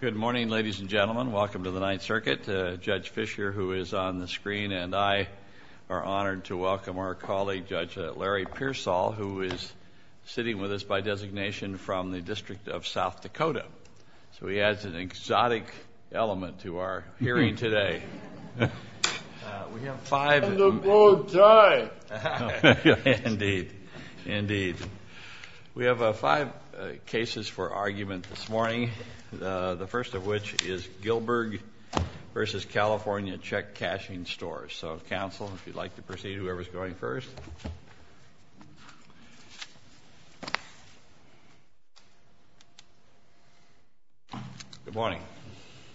Good morning, ladies and gentlemen. Welcome to the Ninth Circuit. Judge Fischer, who is on the screen, and I are honored to welcome our colleague, Judge Larry Pearsall, who is sitting with us by designation from the District of South Dakota. So he adds an exotic element to our hearing today. We have five... And the board die! Indeed. Indeed. We have five cases for argument this morning. The first of which is Gilberg v. California Check Cashing Stores. So, counsel, if you'd like to proceed, whoever is going first. Good morning.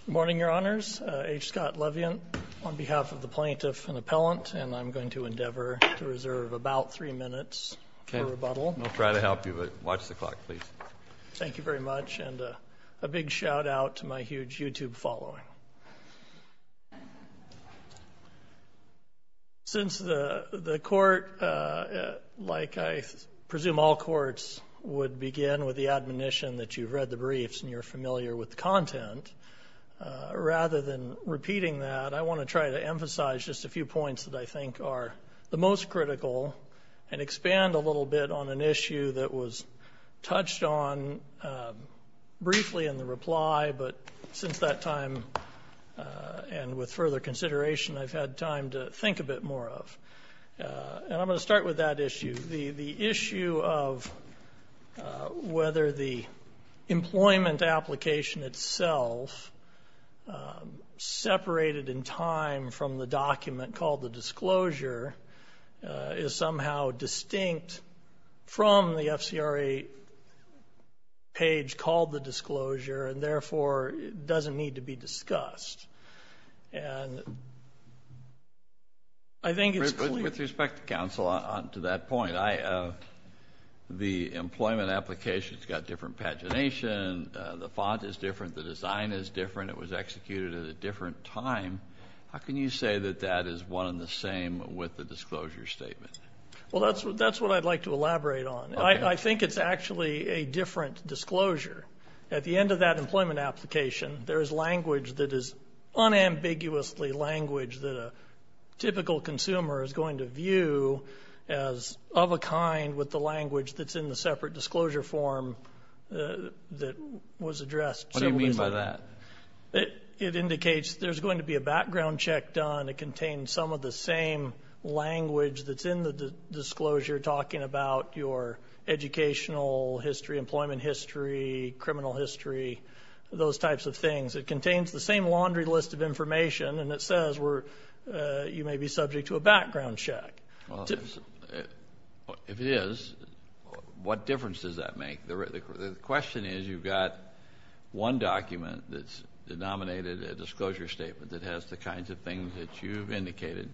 Good morning, Your Honors. H. Scott Leviant on behalf of the plaintiff and appellant, and I'm going to endeavor to reserve about three minutes for rebuttal. We'll try to help you, but watch the clock, please. Thank you very much, and a big shout-out to my huge YouTube following. Since the court, like I presume all courts, would begin with the admonition that you've read the briefs and you're familiar with the content, rather than repeating that, I want to try to emphasize just a few points that I think are the most critical and expand a little bit on an issue that was touched on briefly in the reply, but since that time and with further consideration, I've had time to think a bit more of. The issue of whether the employment application itself, separated in time from the document called the disclosure, is somehow distinct from the FCRA page called the disclosure and therefore doesn't need to be discussed. And I think it's clear. With respect to counsel, to that point, the employment application's got different pagination, the font is different, the design is different, it was executed at a different time. How can you say that that is one and the same with the disclosure statement? Well, that's what I'd like to elaborate on. I think it's actually a different disclosure. At the end of that employment application, there is language that is unambiguously language that a typical consumer is going to view as of a kind with the language that's in the separate disclosure form that was addressed. What do you mean by that? It indicates there's going to be a background check done. It contains some of the same language that's in the disclosure talking about your educational history, criminal history, those types of things. It contains the same laundry list of information and it says you may be subject to a background check. If it is, what difference does that make? The question is you've got one document that's denominated a disclosure statement that has the kinds of things that you've indicated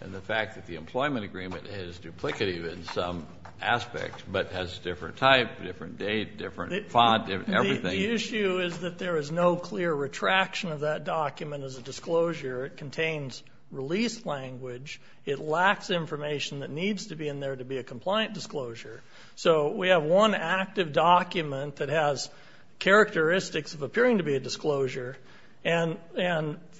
and the fact that the employment agreement is duplicative in some aspects but has a different type, different date, different font, everything. The issue is that there is no clear retraction of that document as a disclosure. It contains release language. It lacks information that needs to be in there to be a compliant disclosure. So we have one active document that has characteristics of appearing to be a disclosure and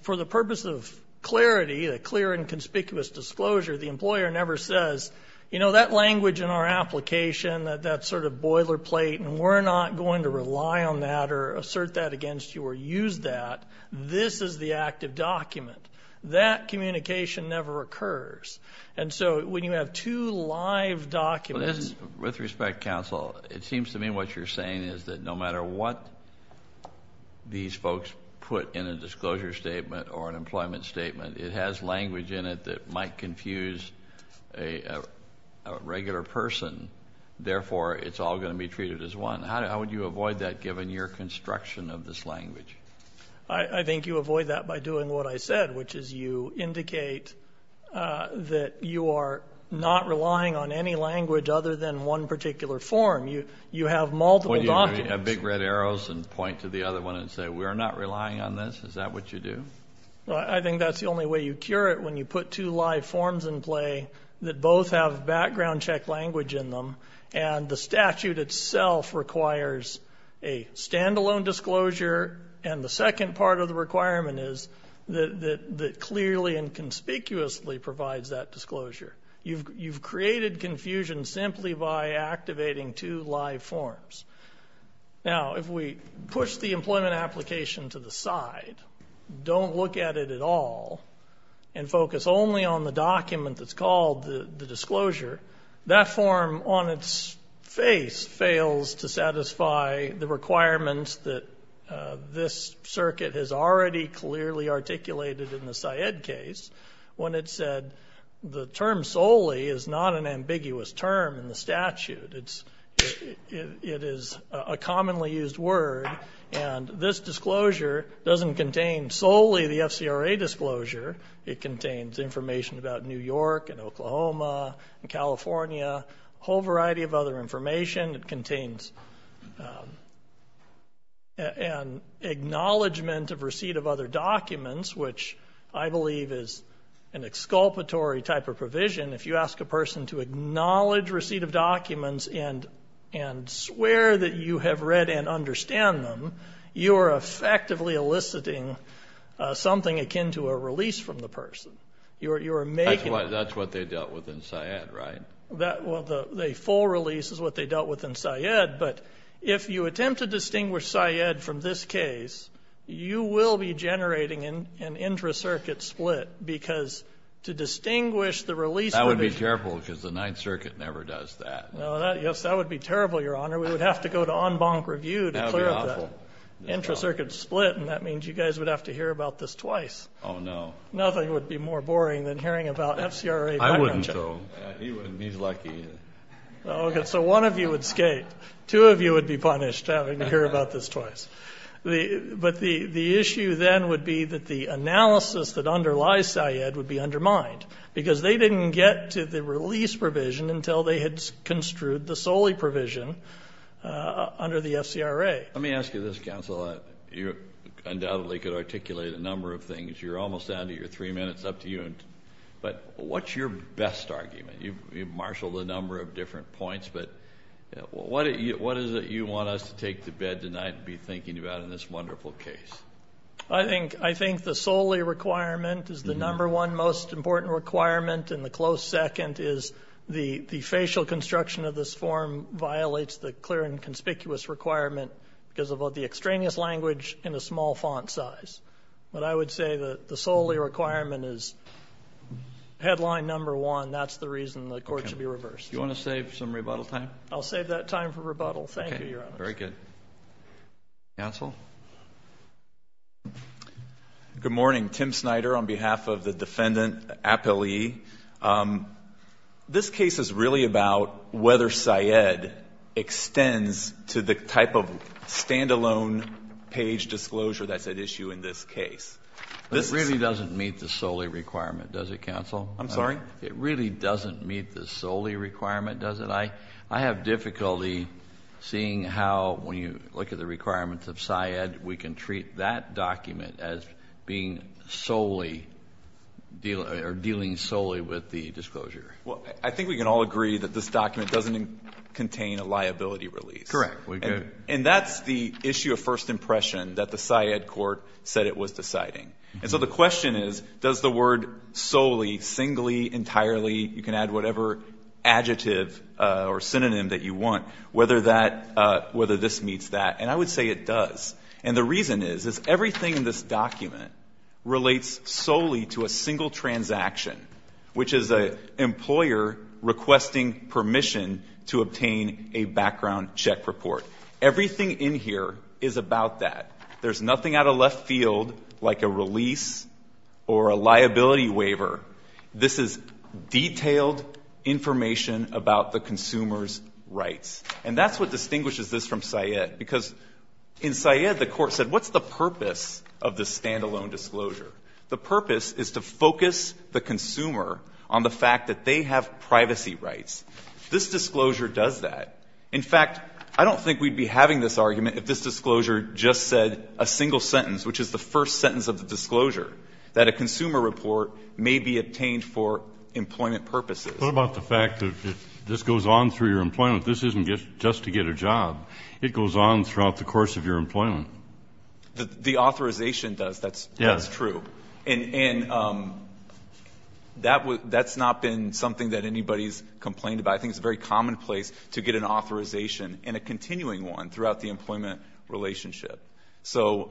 for the purpose of clarity, a clear and conspicuous disclosure, the employer never says, you know, that language in our application, that sort of boilerplate and we're not going to rely on that or assert that against you or use that. This is the active document. That communication never occurs. And so when you have two live documents. With respect, counsel, it seems to me what you're saying is that no matter what these folks put in a disclosure statement or an employment statement, it has language in it that might confuse a regular person. Therefore, it's all going to be treated as one. How would you avoid that given your construction of this language? I think you avoid that by doing what I said, which is you indicate that you are not relying on any language other than one particular form. You have multiple documents. Do you have big red arrows and point to the other one and say we're not relying on this? Is that what you do? I think that's the only way you cure it when you put two live forms in play that both have background check language in them and the statute itself requires a standalone disclosure and the second part of the requirement is that clearly and conspicuously provides that disclosure. You've created confusion simply by activating two live forms. Now, if we push the employment application to the side, don't look at it at all and focus only on the document that's called the disclosure, that form on its face fails to satisfy the requirements that this circuit has already clearly articulated in the Syed case when it said the term solely is not an ambiguous term in the statute. It is a commonly used word and this disclosure doesn't contain solely the FCRA disclosure. It contains information about New York and Oklahoma and California, a whole variety of other information. It contains an acknowledgment of receipt of other documents, which I believe is an exculpatory type of provision. If you ask a person to acknowledge receipt of documents and swear that you have read and understand them, you are effectively eliciting something akin to a release from the person. That's what they dealt with in Syed, right? Well, the full release is what they dealt with in Syed, but if you attempt to distinguish Syed from this case, you will be generating an intra-circuit split because to distinguish the release from the issue. That would be terrible because the Ninth Circuit never does that. Yes, that would be terrible, Your Honor. We would have to go to en banc review to clear up that. That would be awful. Intra-circuit split, and that means you guys would have to hear about this twice. Oh, no. Nothing would be more boring than hearing about FCRA bankruptcy. I wouldn't, though. He wouldn't. He's lucky. Okay, so one of you would skate. Two of you would be punished having to hear about this twice. But the issue then would be that the analysis that underlies Syed would be undermined because they didn't get to the release provision until they had construed the solely provision under the FCRA. Let me ask you this, counsel. You undoubtedly could articulate a number of things. You're almost out of your three minutes. It's up to you. But what's your best argument? You've marshaled a number of different points, but what is it you want us to take to bed tonight and be thinking about in this wonderful case? I think the solely requirement is the number one most important requirement, and the close second is the facial construction of this form violates the clear and conspicuous requirement because of the extraneous language and the small font size. But I would say that the solely requirement is headline number one. That's the reason the court should be reversed. Do you want to save some rebuttal time? I'll save that time for rebuttal. Thank you, Your Honor. Okay. Very good. Counsel? Good morning. Tim Snyder on behalf of the defendant, appellee. This case is really about whether Syed extends to the type of standalone page disclosure that's at issue in this case. It really doesn't meet the solely requirement, does it, counsel? I'm sorry? It really doesn't meet the solely requirement, does it? I have difficulty seeing how, when you look at the requirements of Syed, we can treat that document as being solely or dealing solely with the disclosure. Well, I think we can all agree that this document doesn't contain a liability release. Correct. And that's the issue of first impression that the Syed court said it was deciding. And so the question is, does the word solely, singly, entirely, you can add whatever adjective or synonym that you want, whether this meets that. And I would say it does. And the reason is, is everything in this document relates solely to a single transaction, which is an employer requesting permission to obtain a background check report. Everything in here is about that. There's nothing out of left field like a release or a liability waiver. This is detailed information about the consumer's rights. And that's what distinguishes this from Syed, because in Syed the court said, what's the purpose of this standalone disclosure? The purpose is to focus the consumer on the fact that they have privacy rights. This disclosure does that. In fact, I don't think we'd be having this argument if this disclosure just said a single sentence, which is the first sentence of the disclosure, that a consumer report may be obtained for employment purposes. What about the fact that this goes on through your employment? This isn't just to get a job. It goes on throughout the course of your employment. The authorization does. That's true. And that's not been something that anybody's complained about. I think it's very commonplace to get an authorization and a continuing one throughout the employment relationship. So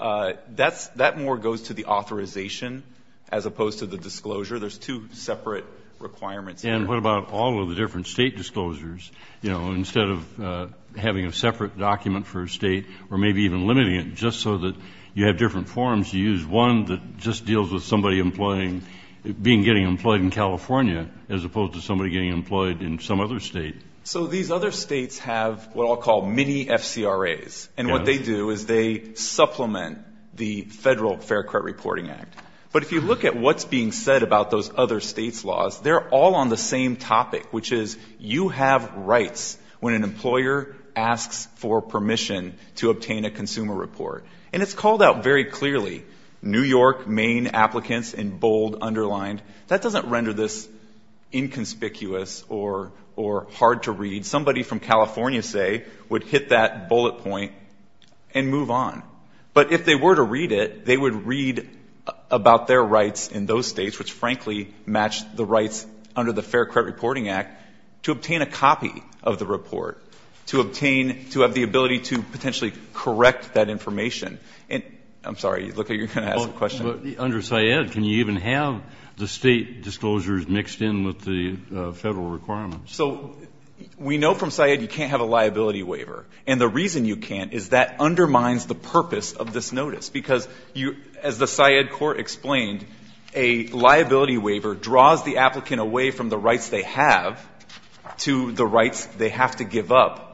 that more goes to the authorization as opposed to the disclosure. There's two separate requirements. And what about all of the different state disclosures? You know, instead of having a separate document for a state or maybe even limiting it just so that you have different forms to use, one that just deals with somebody being getting employed in California as opposed to somebody getting employed in some other state. So these other states have what I'll call mini-FCRAs. And what they do is they supplement the Federal Fair Credit Reporting Act. But if you look at what's being said about those other states' laws, they're all on the same topic, which is you have rights when an employer asks for permission to obtain a consumer report. And it's called out very clearly. New York, Maine applicants in bold underlined. That doesn't render this inconspicuous or hard to read. Somebody from California, say, would hit that bullet point and move on. But if they were to read it, they would read about their rights in those states, which frankly match the rights under the Fair Credit Reporting Act, to obtain a copy of the report, to obtain to have the ability to potentially correct that information. I'm sorry. You look like you're going to ask a question. But under Syed, can you even have the state disclosures mixed in with the Federal requirements? So we know from Syed you can't have a liability waiver. And the reason you can't is that undermines the purpose of this notice, because as the Syed court explained, a liability waiver draws the applicant away from the rights they have to the rights they have to give up.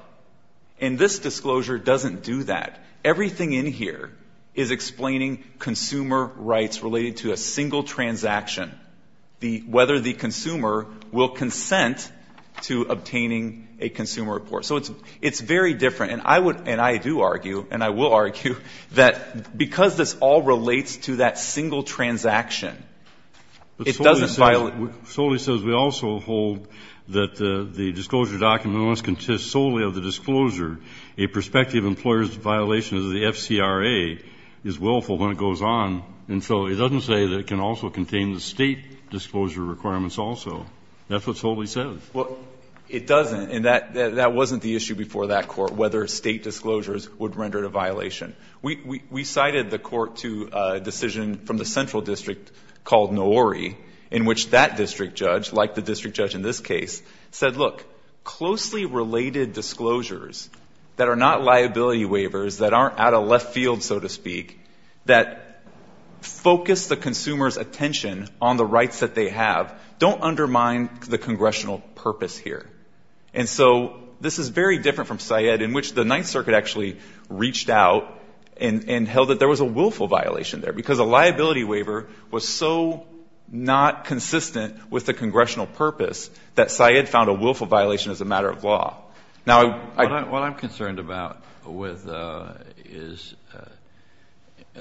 And this disclosure doesn't do that. Everything in here is explaining consumer rights related to a single transaction, whether the consumer will consent to obtaining a consumer report. So it's very different. And I would and I do argue, and I will argue, that because this all relates to that single transaction, it doesn't violate. Solely says we also hold that the disclosure document must consist solely of the FCRA is willful when it goes on. And so it doesn't say that it can also contain the state disclosure requirements also. That's what it totally says. Well, it doesn't. And that wasn't the issue before that court, whether state disclosures would render it a violation. We cited the court to a decision from the central district called Noori, in which that district judge, like the district judge in this case, said, look, closely related disclosures that are not liability waivers, that aren't out of left field, so to speak, that focus the consumer's attention on the rights that they have, don't undermine the congressional purpose here. And so this is very different from Syed, in which the Ninth Circuit actually reached out and held that there was a willful violation there, because a liability waiver was so not consistent with the congressional purpose that Syed found a willful violation as a matter of law. What I'm concerned about with is,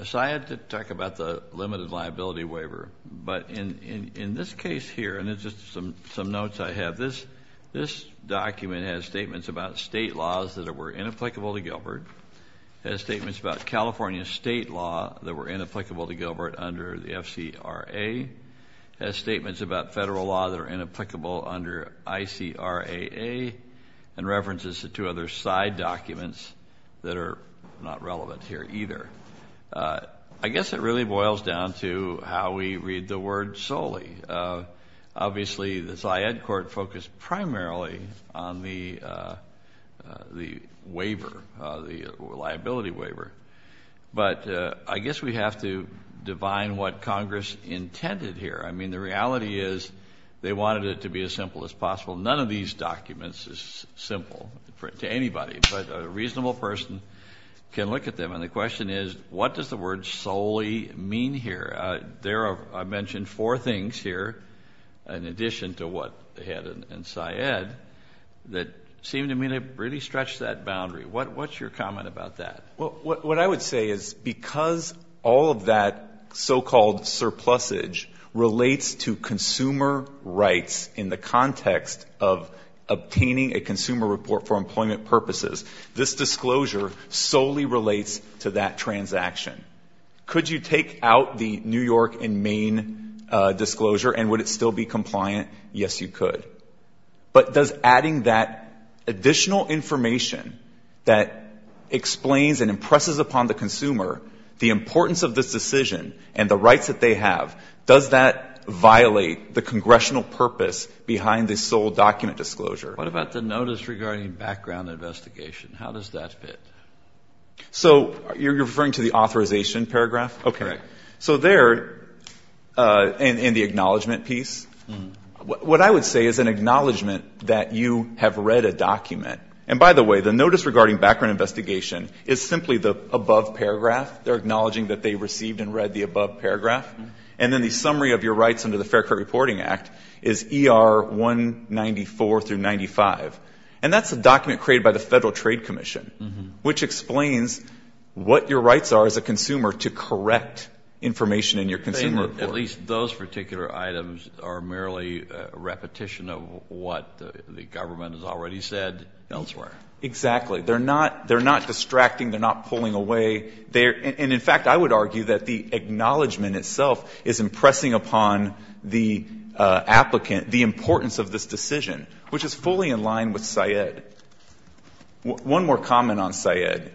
Syed did talk about the limited liability waiver, but in this case here, and it's just some notes I have, this document has statements about state laws that were inapplicable to Gilbert, has statements about California state law that were inapplicable to Gilbert under the FCRA, has statements about federal law that are inapplicable under ICRAA, and references to two other side documents that are not relevant here either. I guess it really boils down to how we read the word solely. Obviously the Syed court focused primarily on the waiver, the liability waiver. But I guess we have to divine what Congress intended here. I mean, the reality is they wanted it to be as simple as possible. None of these documents is simple to anybody, but a reasonable person can look at them. And the question is, what does the word solely mean here? I mentioned four things here, in addition to what they had in Syed, that seemed to me to really stretch that boundary. What's your comment about that? Well, what I would say is because all of that so-called surplusage relates to consumer rights in the context of obtaining a consumer report for employment purposes, this disclosure solely relates to that transaction. Could you take out the New York and Maine disclosure and would it still be compliant? Yes, you could. But does adding that additional information that explains and impresses upon the consumer, the importance of this decision and the rights that they have, does that violate the congressional purpose behind this sole document disclosure? What about the notice regarding background investigation? How does that fit? So you're referring to the authorization paragraph. Okay. So there in the acknowledgement piece, what I would say is an acknowledgement that you have read a document. And by the way, the notice regarding background investigation is simply the above paragraph. They're acknowledging that they received and read the above paragraph. And then the summary of your rights under the Fair Court Reporting Act is ER 194 through 95. And that's a document created by the Federal Trade Commission, which explains what your rights are as a consumer to correct information in your consumer. At least those particular items are merely repetition of what the government has already said elsewhere. Exactly. They're not distracting. They're not pulling away. And in fact, I would argue that the acknowledgement itself is impressing upon the applicant the importance of this decision, which is fully in line with Syed. One more comment on Syed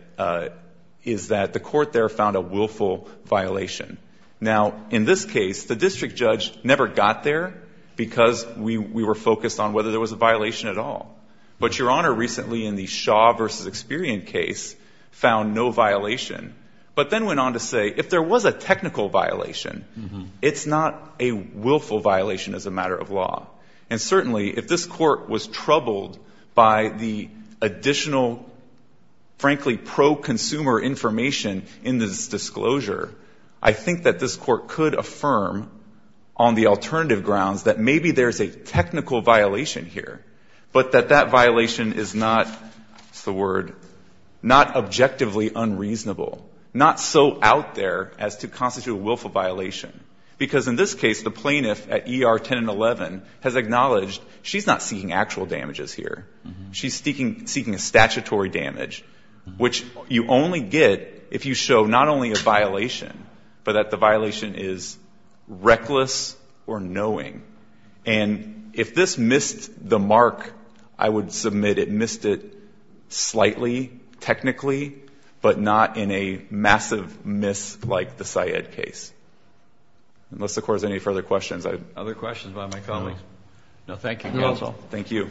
is that the court there found a willful violation. Now, in this case, the district judge never got there because we were focused on whether there was a violation at all. But Your Honor, recently in the Shaw versus Experian case, found no violation, but then went on to say if there was a technical violation, it's not a willful violation as a matter of law. And certainly, if this court was troubled by the additional, frankly, pro-consumer information in this disclosure, I think that this court could affirm on the alternative grounds that maybe there is a technical violation here, but that that violation is not, what's the word, not objectively unreasonable, not so out there as to constitute a willful violation. Because in this case, the plaintiff at ER 10 and 11 has acknowledged she's not seeking actual damages She's seeking statutory damage, which you only get if you show not only a violation, but that the violation is reckless or knowing. And if this missed the mark, I would submit it missed it slightly, technically, but not in a massive miss like the Syed case. Unless the Court has any further questions. Other questions by my colleagues? No, thank you, counsel. Thank you. Thank you.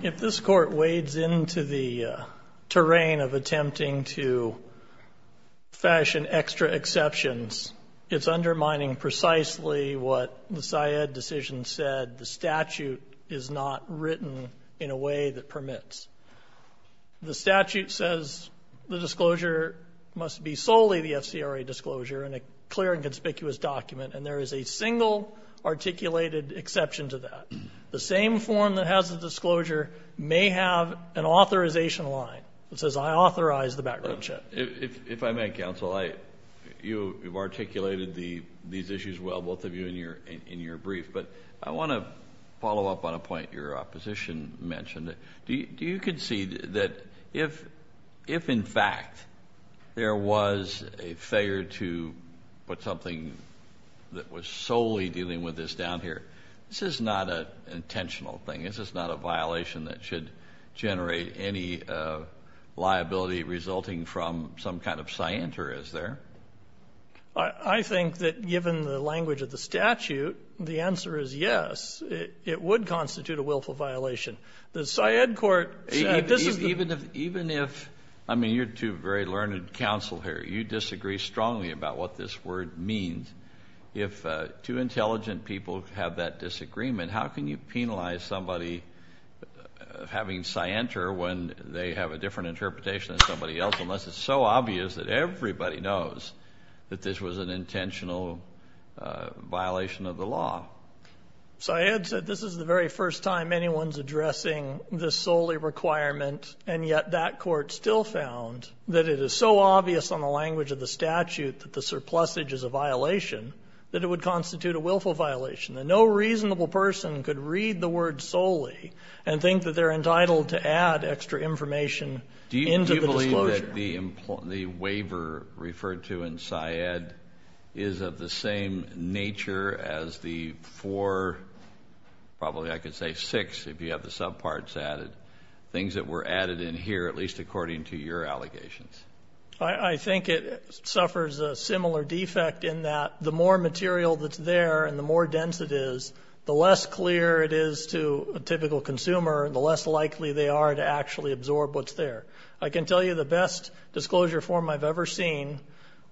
If this court wades into the terrain of attempting to fashion extra exceptions, it's undermining precisely what the Syed decision said. The statute is not written in a way that permits. The statute says the disclosure must be solely the FCRA disclosure in a clear and conspicuous document. And there is a single articulated exception to that. The same form that has the disclosure may have an authorization line that says, I authorize the background check. If I may, counsel, you articulated these issues well, both of you in your brief. But I want to follow up on a point your opposition mentioned. Do you concede that if, if in fact there was a failure to put something that was solely dealing with this down here, this is not an intentional thing. This is not a violation that should generate any liability resulting from some kind of scienter, is there? I think that given the language of the statute, the answer is yes. It would constitute a willful violation. The Syed court. Even if, even if, I mean, you're two very learned counsel here. You disagree strongly about what this word means. If two intelligent people have that disagreement, how can you penalize somebody having scienter when they have a different that this was an intentional violation of the law? Syed said this is the very first time anyone's addressing this solely requirement. And yet that court still found that it is so obvious on the language of the statute that the surplusage is a violation that it would constitute a willful violation. And no reasonable person could read the word solely and think that they're entitled to add extra information into the disclosure. The waiver referred to in Syed is of the same nature as the four, probably I could say six if you have the subparts added. Things that were added in here, at least according to your allegations. I think it suffers a similar defect in that the more material that's there and the more dense it is, the less clear it is to a typical consumer and the less likely they are to actually absorb what's there. I can tell you the best disclosure form I've ever seen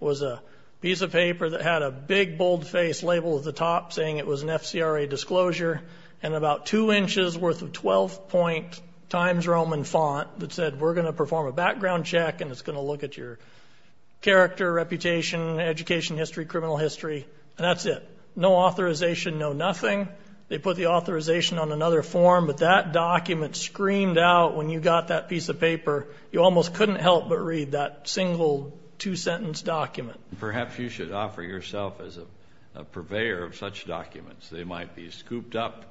was a piece of paper that had a big bold-faced label at the top saying it was an FCRA disclosure and about two inches worth of 12-point Times Roman font that said we're going to perform a background check and it's going to look at your character, reputation, education history, criminal history, and that's it. No authorization, no nothing. They put the authorization on another form, but that document screamed out when you got that piece of paper. You almost couldn't help but read that single two-sentence document. Perhaps you should offer yourself as a purveyor of such documents. They might be scooped up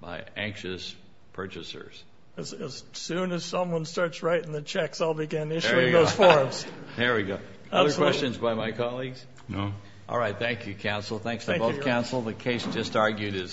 by anxious purchasers. As soon as someone starts writing the checks, I'll begin issuing those forms. There we go. Other questions by my colleagues? No. All right. Thank you, counsel. Thanks to both counsel. The case just argued is submitted.